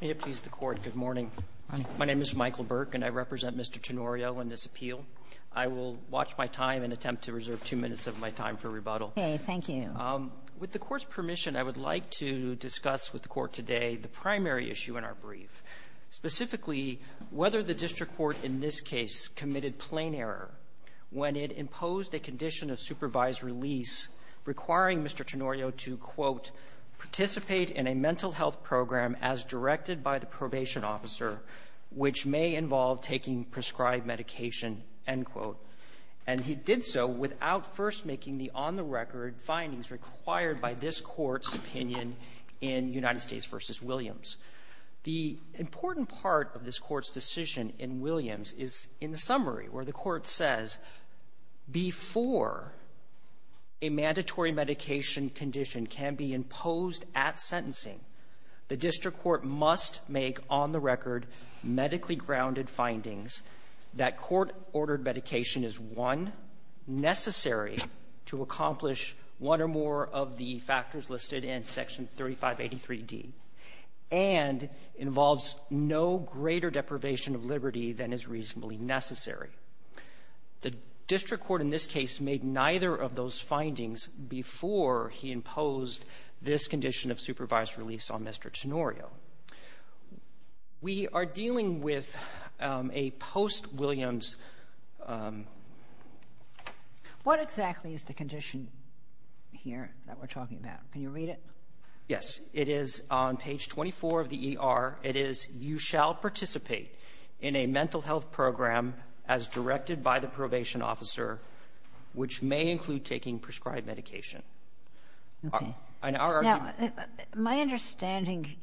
May it please the Court, good morning. My name is Michael Burke, and I represent Mr. Tenorio in this appeal. I will watch my time and attempt to reserve two minutes of my time for rebuttal. Okay, thank you. With the Court's permission, I would like to discuss with the Court today the primary issue in our brief. Specifically, whether the district court in this case committed plain error when it imposed a condition of supervised release requiring Mr. Tenorio to, quote, participate in a mental health program as directed by the probation officer, which may involve taking prescribed medication, end quote. And he did so without first making the on-the-record findings required by this Court's opinion in United States v. Williams. The important part of this Court's decision in Williams is in the summary where the Court says before a mandatory medication condition can be imposed at sentencing, the district court must make on-the-record medically-grounded findings that court-ordered medication is, one, necessary to accomplish one or more of the factors listed in Section The district court in this case made neither of those findings before he imposed this condition of supervised release on Mr. Tenorio. We are dealing with a post-Williams — What exactly is the condition here that we're talking about? Can you read it? Yes. It is on page 24 of the ER. It is, you shall participate in a mental health program as directed by the probation officer, which may include taking prescribed medication. Okay. And our argument — Now, my understanding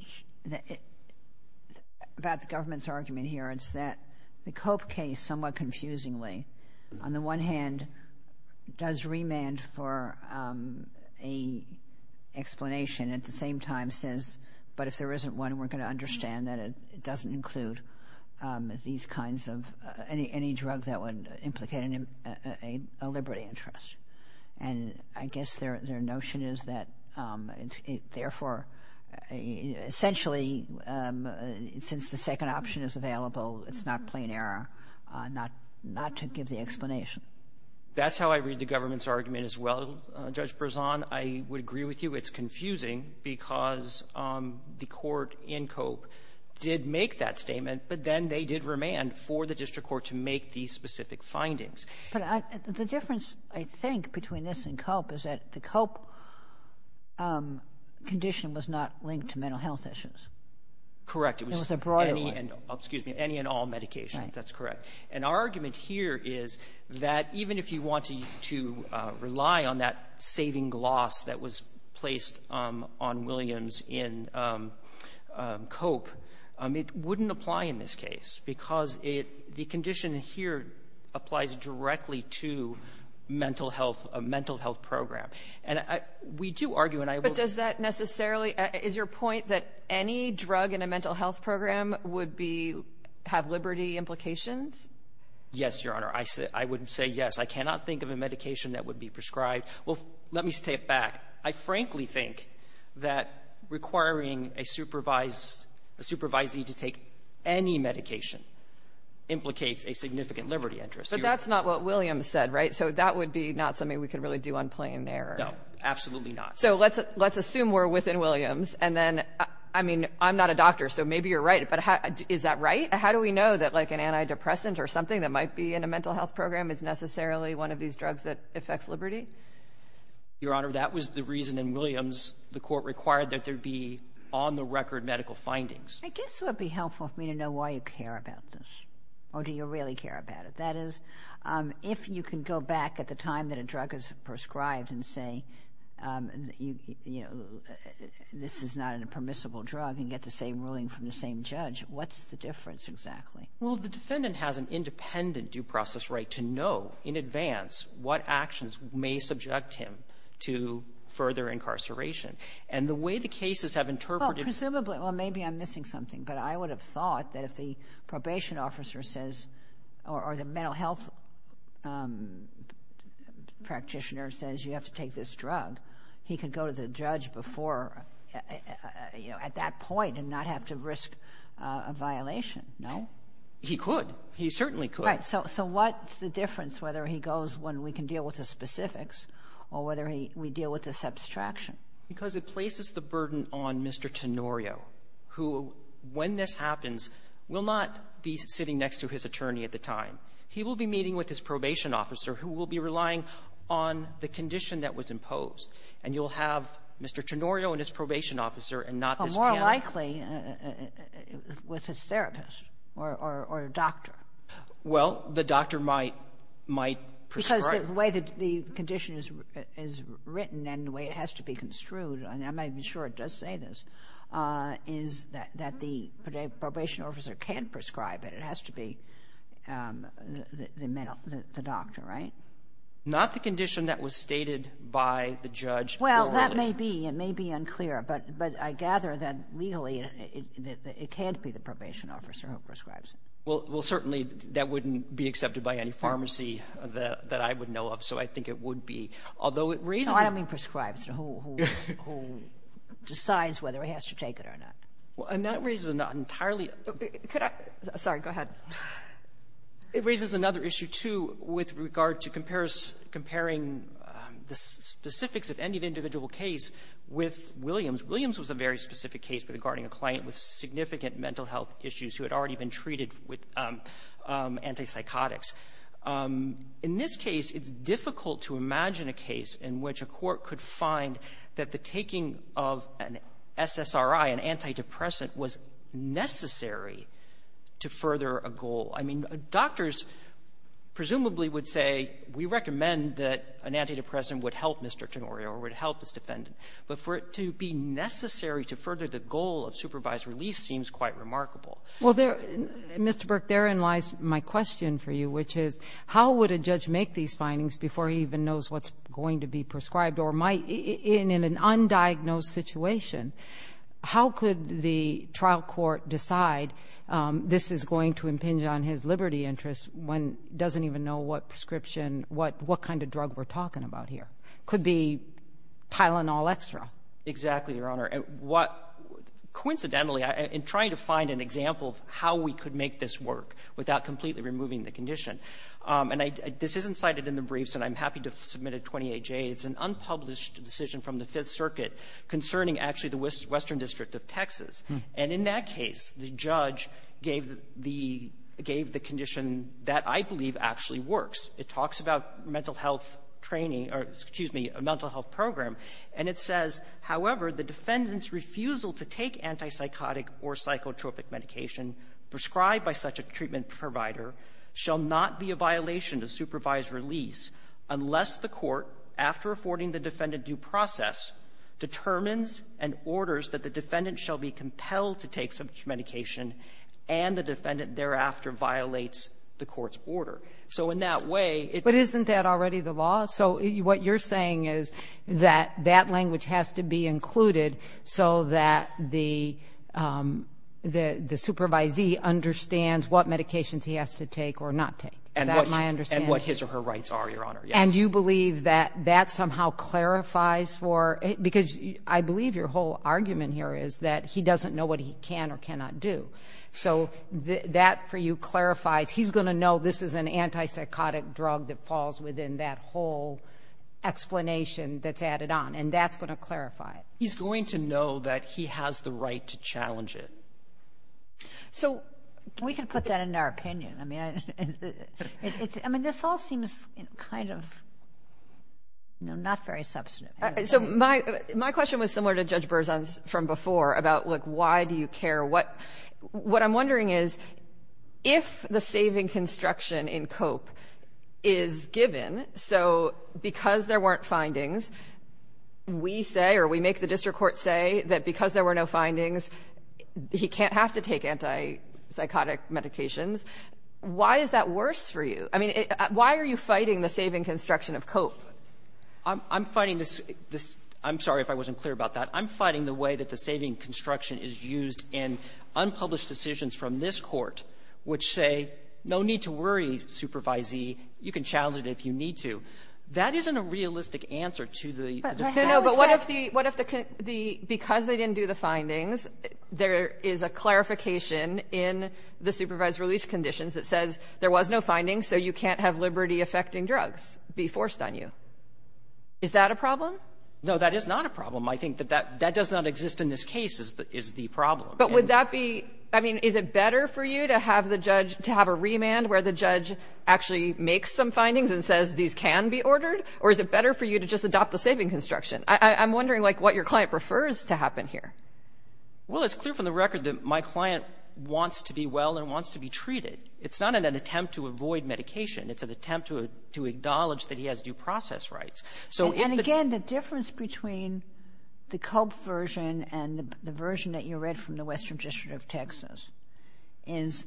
about the government's argument here is that the Cope case, somewhat confusingly, on the one hand, does remand for a explanation at the same time, says, but if there isn't one, we're going to understand that it doesn't include these kinds of — any drugs that would implicate a liberty interest. And I guess their notion is that, therefore, essentially, since the second option is available, it's not plain error not to give the explanation. That's how I read the government's argument as well, Judge Brezon. I would agree with you. It's confusing because the court in Cope did make that statement, but then they did remand for the district court to make these specific findings. But I — the difference, I think, between this and Cope is that the Cope condition was not linked to mental health issues. Correct. It was a broader one. It was any and — excuse me — any and all medications. That's correct. And our argument here is that even if you want to rely on that saving gloss that was placed on Williams in Cope, it wouldn't apply in this case because it — the condition here applies directly to mental health, a mental health program. And I — we do argue, and I will — But does that necessarily — is your point that any drug in a mental health program would be — have liberty implications? Yes, Your Honor. I would say yes. I cannot think of a medication that would be prescribed. Well, let me step back. I frankly think that requiring a supervised — a supervisee to take any medication implicates a significant liberty interest. But that's not what Williams said, right? So that would be not something we could really do on plain error. No, absolutely not. So let's assume we're within Williams, and then — I mean, I'm not a doctor, so maybe you're right, but how — is that right? How do we know that, like, an antidepressant or something that might be in a mental health program is necessarily one of these drugs that affects liberty? Your Honor, that was the reason in Williams the court required that there be on-the-record medical findings. I guess it would be helpful for me to know why you care about this, or do you really care about it. That is, if you can go back at the time that a drug is prescribed and say, you know, this is not a permissible drug, you can get the same ruling from the same judge, what's the difference exactly? Well, the defendant has an independent due process right to know in advance what actions may subject him to further incarceration. And the way the cases have interpreted — Well, presumably — well, maybe I'm missing something, but I would have thought that if the probation officer says — or the mental health practitioner says you have to take this drug, he could go to the judge before, you know, at that point and not have to risk a violation, no? He could. He certainly could. Right. So what's the difference whether he goes when we can deal with the specifics or whether he — we deal with the subtraction? Because it places the burden on Mr. Tenorio, who, when this happens, will not be sitting next to his attorney at the time. He will be meeting with his probation officer, who will be relying on the condition that was imposed. And you'll have Mr. Tenorio and his probation officer, and not this man. Well, more likely with his therapist or doctor. Well, the doctor might — might prescribe. Because the way that the condition is written and the way it has to be construed — and I'm not even sure it does say this — is that the probation officer can't prescribe the doctor, right? Not the condition that was stated by the judge. Well, that may be. It may be unclear. But I gather that legally, it can't be the probation officer who prescribes it. Well, certainly, that wouldn't be accepted by any pharmacy that I would know of. So I think it would be. Although it raises — No, I don't mean prescribes, who decides whether he has to take it or not. And that raises an entirely — Could I — sorry. Go ahead. It raises another issue, too, with regard to comparing the specifics of any of the individual case with Williams. Williams was a very specific case regarding a client with significant mental health issues who had already been treated with antipsychotics. In this case, it's difficult to imagine a case in which a court could find that the taking of an SSRI, an antidepressant, was necessary to further a goal. I mean, doctors presumably would say, we recommend that an antidepressant would help Mr. Tonorio or would help his defendant. But for it to be necessary to further the goal of supervised release seems quite remarkable. Well, there — Mr. Burke, therein lies my question for you, which is, how would a judge make these findings before he even knows what's going to be prescribed or might in an undiagnosed situation, how could the trial court decide this is going to impinge on his liberty interests when he doesn't even know what prescription — what kind of drug we're talking about here? It could be Tylenol Extra. Exactly, Your Honor. What — coincidentally, in trying to find an example of how we could make this work without completely removing the condition, and I — this isn't cited in the briefs, and I'm happy to submit a 28-J. It's an unpublished decision from the Fifth Circuit concerning actually the Western District of Texas. And in that case, the judge gave the — gave the condition that I believe actually works. It talks about mental health training — or, excuse me, a mental health program. And it says, however, the defendant's refusal to take antipsychotic or psychotropic medication prescribed by such a treatment provider shall not be a violation of supervised release unless the court, after affording the defendant due process, determines and orders that the defendant shall be compelled to take such medication and the defendant thereafter violates the court's order. So in that way, it — But isn't that already the law? So what you're saying is that that language has to be included so that the — the supervisee understands what medications he has to take or not take. Is that my understanding? And what his or her rights are, Your Honor. Yes. And you believe that that somehow clarifies for — because I believe your whole argument here is that he doesn't know what he can or cannot do. So that, for you, clarifies — he's going to know this is an antipsychotic drug that falls within that whole explanation that's added on, and that's going to clarify it. He's going to know that he has the right to challenge it. So — We can put that in our opinion. I mean, it's — I mean, this all seems kind of, you know, not very substantive. So my question was similar to Judge Berzon's from before about, look, why do you care what — what I'm wondering is, if the saving construction in Cope is given, so because there weren't findings, we say or we make the district court say that because there were no findings, he can't have to take antipsychotic medications, why is that worse for you? I mean, why are you fighting the saving construction of Cope? I'm — I'm fighting this — this — I'm sorry if I wasn't clear about that. I'm fighting the way that the saving construction is used in unpublished decisions from this Court which say, no need to worry, Supervisee, you can challenge it if you need to. That isn't a realistic answer to the defense. No, no, but what if the — what if the — the — because they didn't do the findings, there is a clarification in the supervised release conditions that says there was no findings, so you can't have liberty-affecting drugs be forced on you. Is that a problem? No, that is not a problem. I think that that — that does not exist in this case is the — is the problem. But would that be — I mean, is it better for you to have the judge — to have a remand where the judge actually makes some findings and says these can be ordered, or is it the saving construction? I'm wondering, like, what your client prefers to happen here. Well, it's clear from the record that my client wants to be well and wants to be treated. It's not an attempt to avoid medication. It's an attempt to — to acknowledge that he has due process rights. So if — And again, the difference between the Culp version and the version that you read from the Western District of Texas is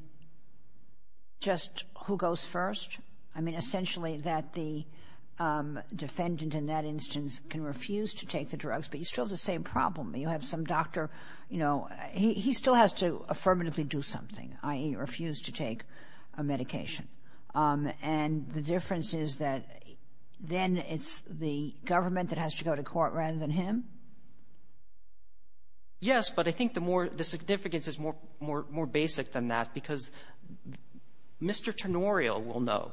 just who goes first. I mean, essentially, that the defendant in that instance can refuse to take the drugs. But you still have the same problem. You have some doctor, you know, he — he still has to affirmatively do something, i.e., refuse to take a medication. And the difference is that then it's the government that has to go to court rather than him. Yes, but I think the more — the significance is more — more — more basic than that, because Mr. Tenorio will know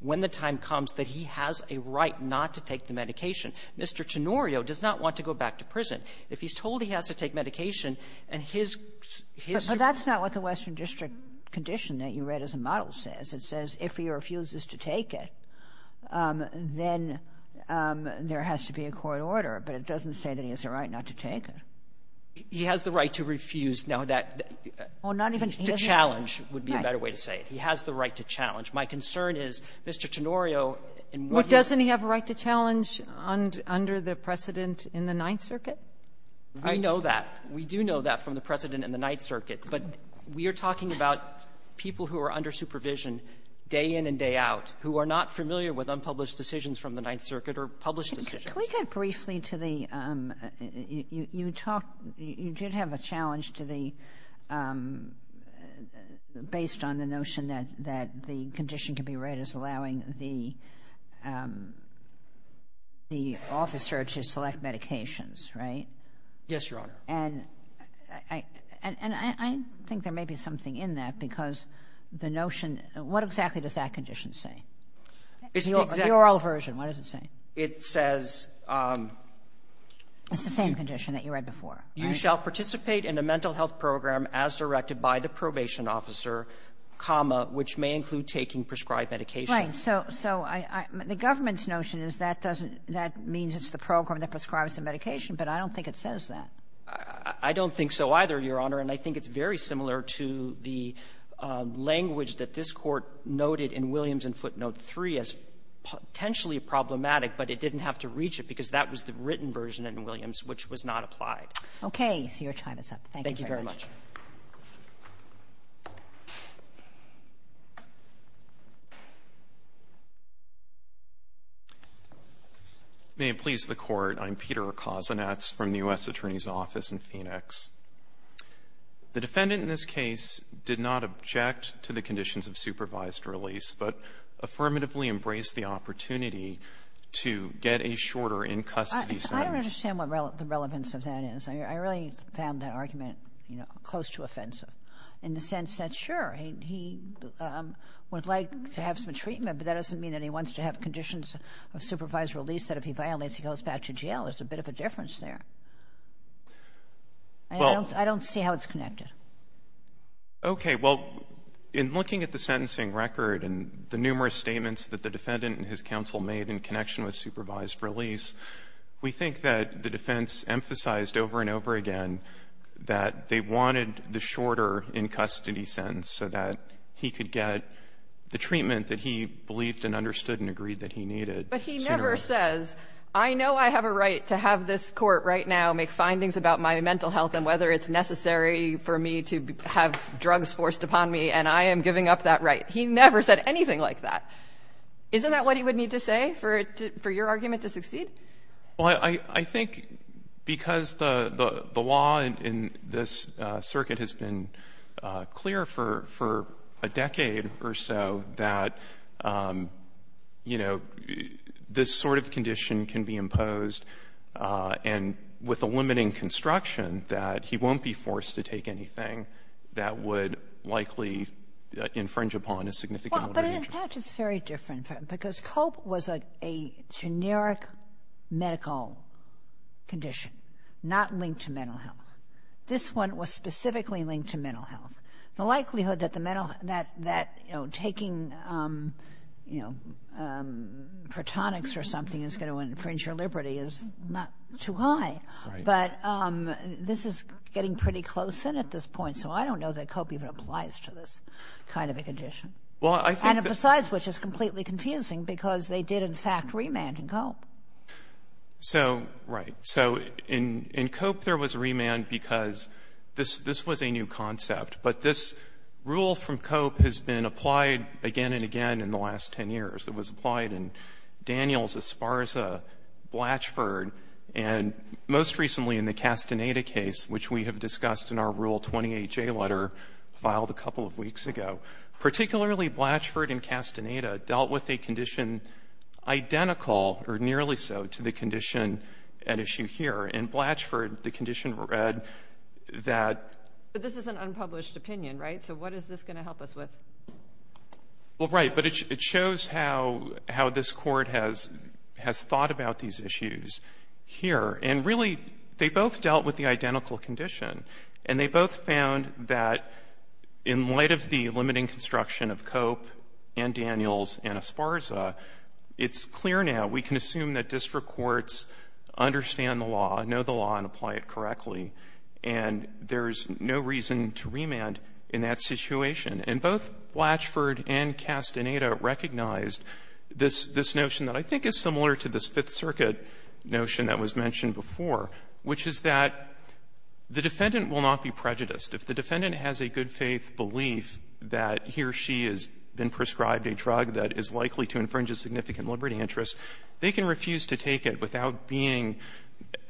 when the time comes that he has a right not to take the medication. Mr. Tenorio does not want to go back to prison. If he's told he has to take medication, and his — his — But that's not what the Western District condition that you read as a model says. It says if he refuses to take it, then there has to be a court order. But it doesn't say that he has a right not to take it. He has the right to refuse. Now, that — Oh, not even — To challenge would be a better way to say it. He has the right to challenge. My concern is, Mr. Tenorio, in what he's — Well, doesn't he have a right to challenge under the precedent in the Ninth Circuit? I know that. We do know that from the precedent in the Ninth Circuit. But we are talking about people who are under supervision day in and day out who are not familiar with unpublished decisions from the Ninth Circuit or published decisions. Can we get briefly to the — you talk — you did have a challenge to the — based on the notion that the condition can be read as allowing the officer to select medications, right? Yes, Your Honor. And I think there may be something in that, because the notion — what exactly does that condition say? It's the — The oral version, what does it say? It says — It's the same condition that you read before, right? You shall participate in a mental health program as directed by the probation officer, which may include taking prescribed medication. Right. So — so I — the government's notion is that doesn't — that means it's the program that prescribes the medication, but I don't think it says that. I don't think so either, Your Honor. And I think it's very similar to the language that this Court noted in Williams and footnote 3 as potentially problematic, but it didn't have to reach it, because that was the written version in Williams, which was not applied. Okay. So your time is up. Thank you very much. Thank you very much. May it please the Court. I'm Peter Kozinets from the U.S. Attorney's Office in Phoenix. The defendant in this case did not object to the conditions of supervised release, but affirmatively embraced the opportunity to get a shorter in-custody sentence. I understand what the relevance of that is. I really found that argument, you know, close to offensive in the sense that, sure, he would like to have some treatment, but that doesn't mean that he wants to have conditions of supervised release that if he violates, he goes back to jail. There's a bit of a difference there. Well — I don't see how it's connected. Okay. Well, in looking at the sentencing record and the numerous statements that the defendant and his counsel made in connection with supervised release, we think that the defense emphasized over and over again that they wanted the shorter in-custody sentence so that he could get the treatment that he believed and understood and agreed that he needed sooner or later. But he never says, I know I have a right to have this Court right now make findings about my mental health and whether it's necessary for me to have drugs forced upon me, and I am giving up that right. He never said anything like that. Isn't that what he would need to say for your argument to succeed? Well, I think because the law in this circuit has been clear for a decade or so that, you know, this sort of condition can be imposed, and with a limiting construction, that he won't be forced to take anything that would likely infringe upon his significant mental health. Well, but in fact, it's very different, because COPE was a generic medical condition, not linked to mental health. This one was specifically linked to mental health. The likelihood that the mental health that, you know, taking, you know, Protonix or something is going to infringe your liberty is not too high. But this is getting pretty close in at this point, so I don't know that COPE even applies to this kind of a condition. And besides, which is completely confusing, because they did, in fact, remand in COPE. So, right. So in COPE, there was remand because this was a new concept. But this rule from COPE has been applied again and again in the last 10 years. It was applied in Daniels, Esparza, Blatchford, and most recently in the Castaneda case, which we have discussed in our Rule 28J letter filed a couple of weeks ago. Particularly, Blatchford and Castaneda dealt with a condition identical, or nearly so, to the condition at issue here. In Blatchford, the condition read that. But this is an unpublished opinion, right? So what is this going to help us with? Well, right. But it shows how this court has thought about these issues here. And really, they both dealt with the identical condition. And they both found that in light of the limiting construction of COPE and Daniels and Esparza, it's clear now. We can assume that district courts understand the law, know the law, and apply it correctly. And there's no reason to remand in that situation. And both Blatchford and Castaneda recognized this notion that I think is similar to this Fifth Circuit notion that was mentioned before, which is that the defendant will not be prejudiced. If the defendant has a good-faith belief that he or she has been prescribed a drug that is likely to infringe a significant liberty interest, they can refuse to take it without being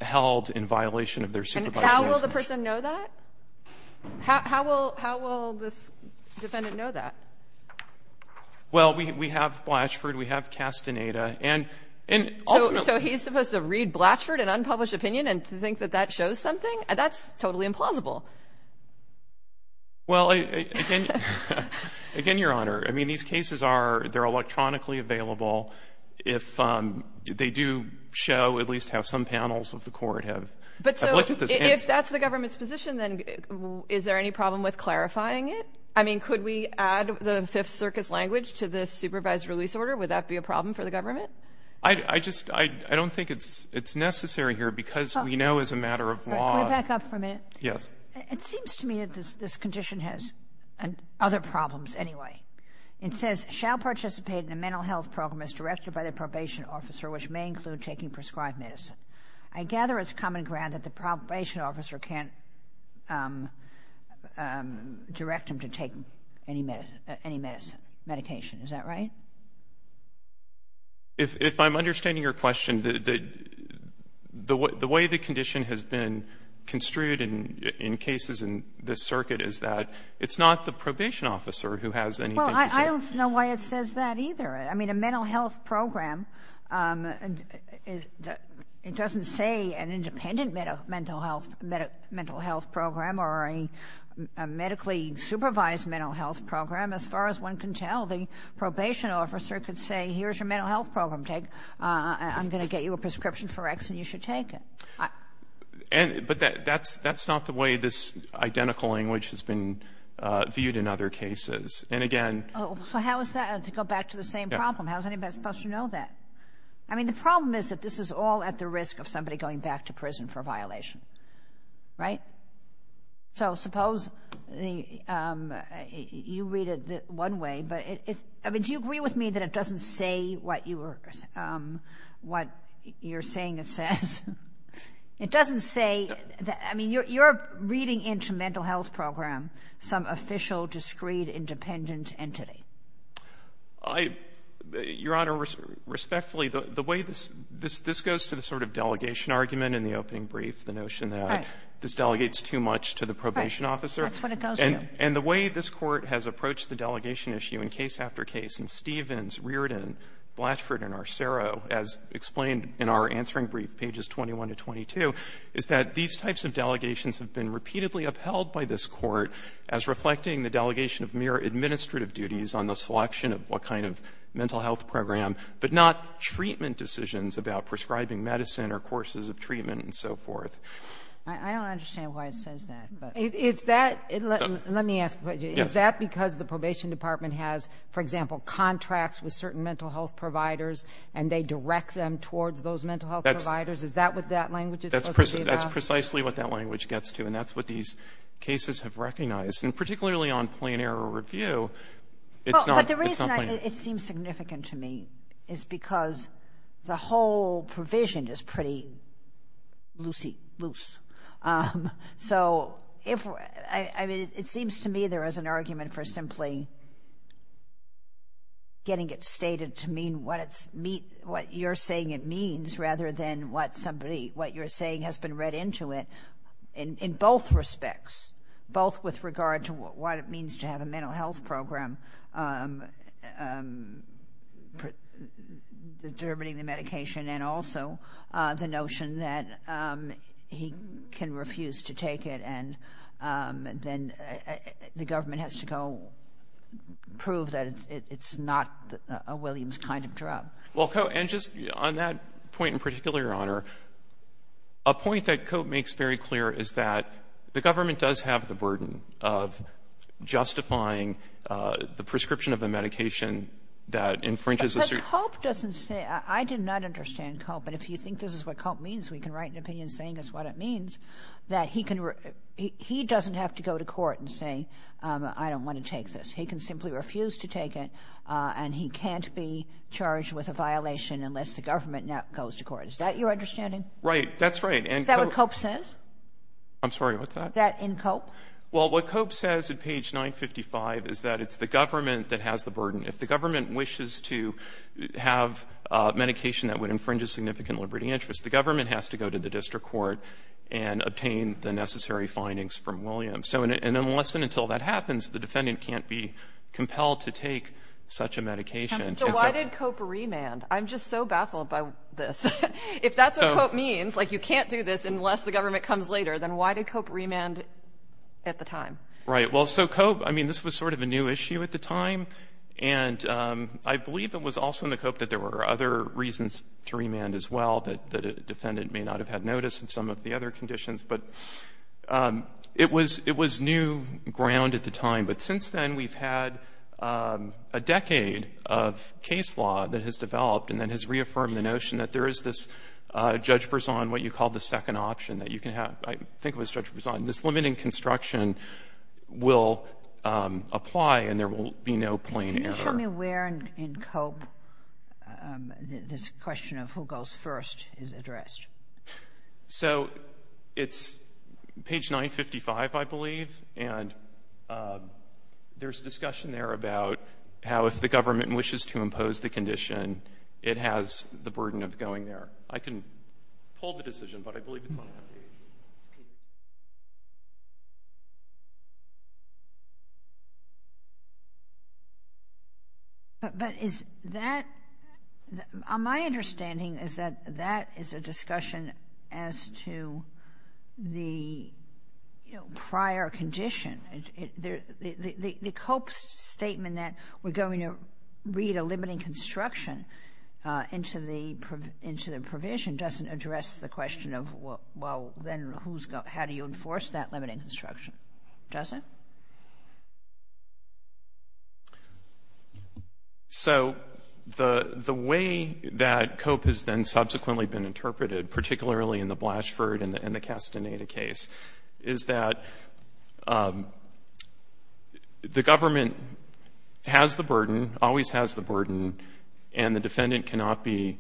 held in violation of their supervisory discretion. And how will the person know that? How will this defendant know that? Well, we have Blatchford, we have Castaneda. And ultimately So he's supposed to read Blatchford, an unpublished opinion, and to think that that shows something? That's totally implausible. They're electronically available. If they do show at least how some panels of the court have looked at this. But so if that's the government's position, then is there any problem with clarifying it? I mean, could we add the Fifth Circuit's language to this supervised release order? Would that be a problem for the government? I just don't think it's necessary here, because we know as a matter of law. Can we back up for a minute? Yes. It seems to me that this condition has other problems anyway. It says, shall participate in a mental health program as directed by the probation officer, which may include taking prescribed medicine. I gather it's common ground that the probation officer can't direct him to take any medicine, medication. Is that right? If I'm understanding your question, the way the condition has been construed in cases in this circuit is that it's not the probation officer who has any medication Well, I don't know why it says that, either. I mean, a mental health program, it doesn't say an independent mental health program or a medically supervised mental health program. As far as one can tell, the probation officer could say, here's your mental health program. Take, I'm going to get you a prescription for X, and you should take it. But that's not the way this identical language has been viewed in other cases. And again. So how is that, to go back to the same problem, how is anybody supposed to know that? I mean, the problem is that this is all at the risk of somebody going back to prison for a violation, right? So suppose you read it one way, but do you agree with me that it doesn't say what you're saying it says? It doesn't say, I mean, you're reading into mental health program some official discreet independent entity. I — Your Honor, respectfully, the way this — this goes to the sort of delegation argument in the opening brief, the notion that this delegates too much to the probation officer. Right. That's what it goes to. And the way this Court has approached the delegation issue in case after case in Stevens, Reardon, Blatchford, and Arcero, as explained in our answering brief, pages 21 to 22, is that these types of delegations have been repeatedly upheld by this Court as reflecting the delegation of mere administrative duties on the selection of what kind of mental health program, but not treatment decisions about prescribing medicine or courses of treatment and so forth. I don't understand why it says that, but — Is that — let me ask you. Yes. Is that because the probation department has, for example, contracts with certain mental health providers, and they direct them towards those mental health providers? Is that what that language is supposed to be about? That's precisely what that language gets to, and that's what these cases have recognized. And particularly on plain-error review, it's not — Well, but the reason it seems significant to me is because the whole provision is pretty loosey-goose. So if — I mean, it seems to me there is an argument for simply getting it stated to mean what it's — what you're saying it means rather than what somebody — what it means to have a mental health program, determining the medication, and also the notion that he can refuse to take it, and then the government has to go prove that it's not a Williams kind of drug. Well, and just on that point in particular, Your Honor, a point that Cope makes very clear is that the government does have the burden of justifying the prescription of a medication that infringes a certain — But Cope doesn't say — I did not understand Cope. But if you think this is what Cope means, we can write an opinion saying it's what it means, that he can — he doesn't have to go to court and say, I don't want to take this. He can simply refuse to take it, and he can't be charged with a violation unless the government now goes to court. Is that your understanding? Right. That's right. Is that what Cope says? I'm sorry. What's that? That in Cope? Well, what Cope says at page 955 is that it's the government that has the burden. If the government wishes to have medication that would infringe a significant liberty interest, the government has to go to the district court and obtain the necessary findings from Williams. So unless and until that happens, the defendant can't be compelled to take such a medication. So why did Cope remand? I'm just so baffled by this. If that's what Cope means, like you can't do this unless the government comes later, then why did Cope remand at the time? Right. Well, so Cope — I mean, this was sort of a new issue at the time, and I believe it was also in the Cope that there were other reasons to remand as well, that a defendant may not have had notice of some of the other conditions. But it was — it was new ground at the time. But since then, we've had a decade of case law that has developed and then has reaffirmed the notion that there is this judge-prison, what you call the second option that you can have. I think it was judge-prison. This limit in construction will apply, and there will be no plain error. Can you show me where in Cope this question of who goes first is addressed? So it's page 955, I believe, and there's discussion there about how if the government wishes to impose the condition, it has the burden of going there. I can pull the decision, but I believe it's on page 955. But is that — my understanding is that that is a discussion as to the, you know, prior condition. The Cope's statement that we're going to read a limiting construction into the — into the provision doesn't address the question of, well, then who's going to — how do you enforce that limiting construction? Doesn't? So the way that Cope has then subsequently been interpreted, particularly in the Blashford and the Castaneda case, is that the government has the burden, always has the burden, and the defendant cannot be,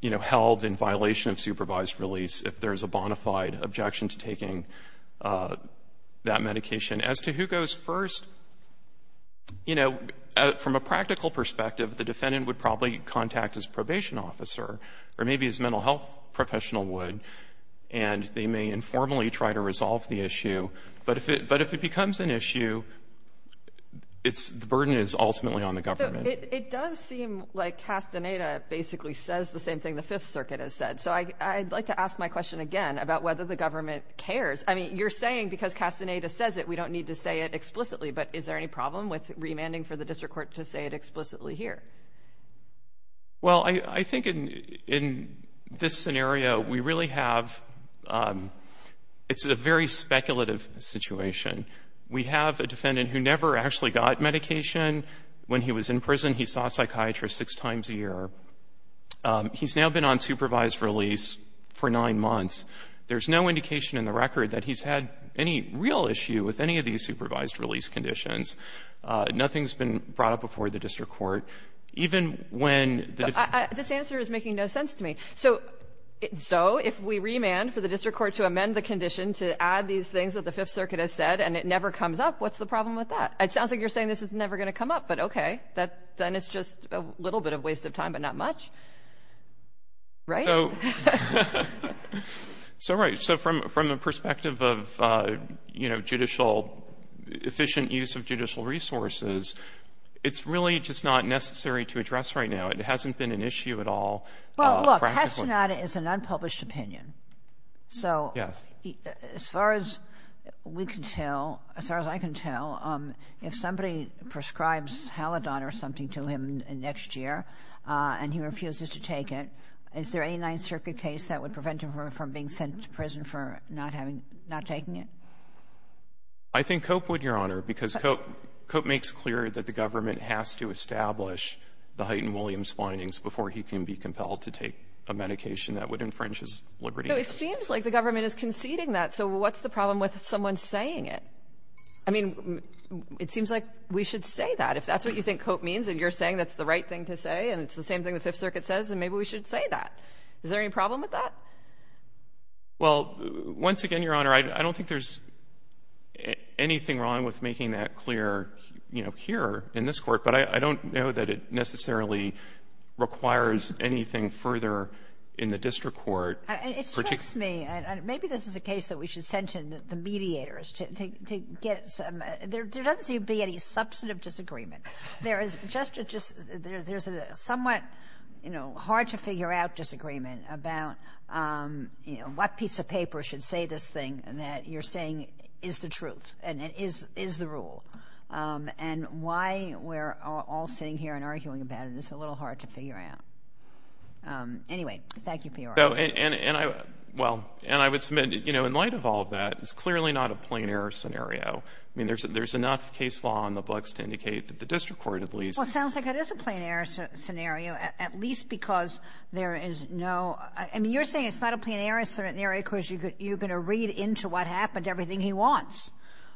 you know, held in violation of supervised release if there's a bona fide objection to taking that medication. As to who goes first, you know, from a practical perspective, the defendant would probably contact his probation officer, or maybe his mental health professional would, and they may informally try to resolve the issue. But if it becomes an issue, it's — the burden is ultimately on the government. It does seem like Castaneda basically says the same thing the Fifth Circuit has said. So I'd like to ask my question again about whether the government cares. I mean, you're saying because Castaneda says it, we don't need to say it explicitly. But is there any problem with remanding for the district court to say it explicitly here? Well, I think in this scenario, we really have — it's a very speculative situation. We have a defendant who never actually got medication. When he was in prison, he saw a psychiatrist six times a year. He's now been on supervised release for nine months. There's no indication in the record that he's had any real issue with any of these supervised release conditions. Nothing's been brought up before the district court. Even when the — This answer is making no sense to me. So if we remand for the district court to amend the condition to add these things that the Fifth Circuit has said and it never comes up, what's the problem with that? It sounds like you're saying this is never going to come up, but okay, then it's just a little bit of waste of time, but not much, right? So — Well, look, Pesternada is an unpublished opinion. So — Yes. As far as we can tell, as far as I can tell, if somebody prescribes Halidon or something to him next year and he refuses to take it, is there any Ninth Circuit case that would prevent him from being sent to prison for not having — not taking it? It's a judicial issue. It's a judicial issue. It would, Your Honor, because Cope — Cope makes clear that the government has to establish the Hyten-Williams findings before he can be compelled to take a medication that would infringe his liberty. No, it seems like the government is conceding that. So what's the problem with someone saying it? I mean, it seems like we should say that. If that's what you think Cope means and you're saying that's the right thing to say and it's the same thing the Fifth Circuit says, then maybe we should say that. Is there any problem with that? Well, once again, Your Honor, I don't think there's anything wrong with making that clear, you know, here in this Court, but I don't know that it necessarily requires anything further in the district court. And it strikes me, and maybe this is a case that we should send to the mediators to get some — there doesn't seem to be any substantive disagreement. There is just a — there's a somewhat, you know, hard-to-figure-out disagreement about, you know, what piece of paper should say this thing that you're saying is the truth and is the rule, and why we're all sitting here and arguing about it is a little hard to figure out. Anyway, thank you, P.R. And I — well, and I would submit, you know, in light of all of that, it's clearly not a plain-error scenario. I mean, there's enough case law in the books to indicate that the district court, at least — Kagan. I mean, you're saying it's not a plain-error scenario because you're going to read into what happened everything he wants,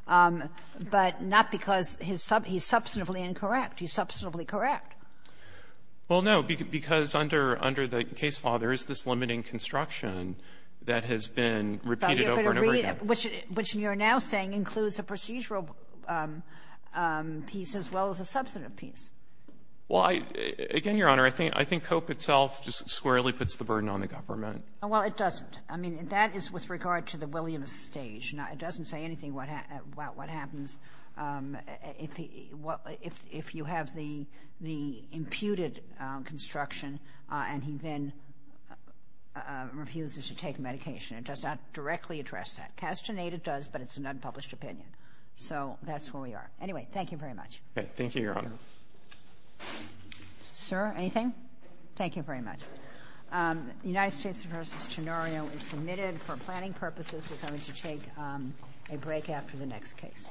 but not because his sub — he's substantively incorrect. He's substantively correct. Well, no, because under — under the case law, there is this limiting construction that has been repeated over and over again. But you could read it, which you're now saying includes a procedural piece as well as a substantive piece. Well, I — again, Your Honor, I think — I think COPE itself just squarely puts the burden on the government. Well, it doesn't. I mean, that is with regard to the Williams stage. It doesn't say anything about what happens if he — if you have the — the imputed construction, and he then refuses to take medication. It does not directly address that. Castaneda does, but it's an unpublished opinion. So that's where we are. Anyway, thank you very much. Okay. Thank you, Your Honor. Sir, anything? Thank you very much. The United States v. Tenorio is submitted for planning purposes. We're going to take a break after the next case.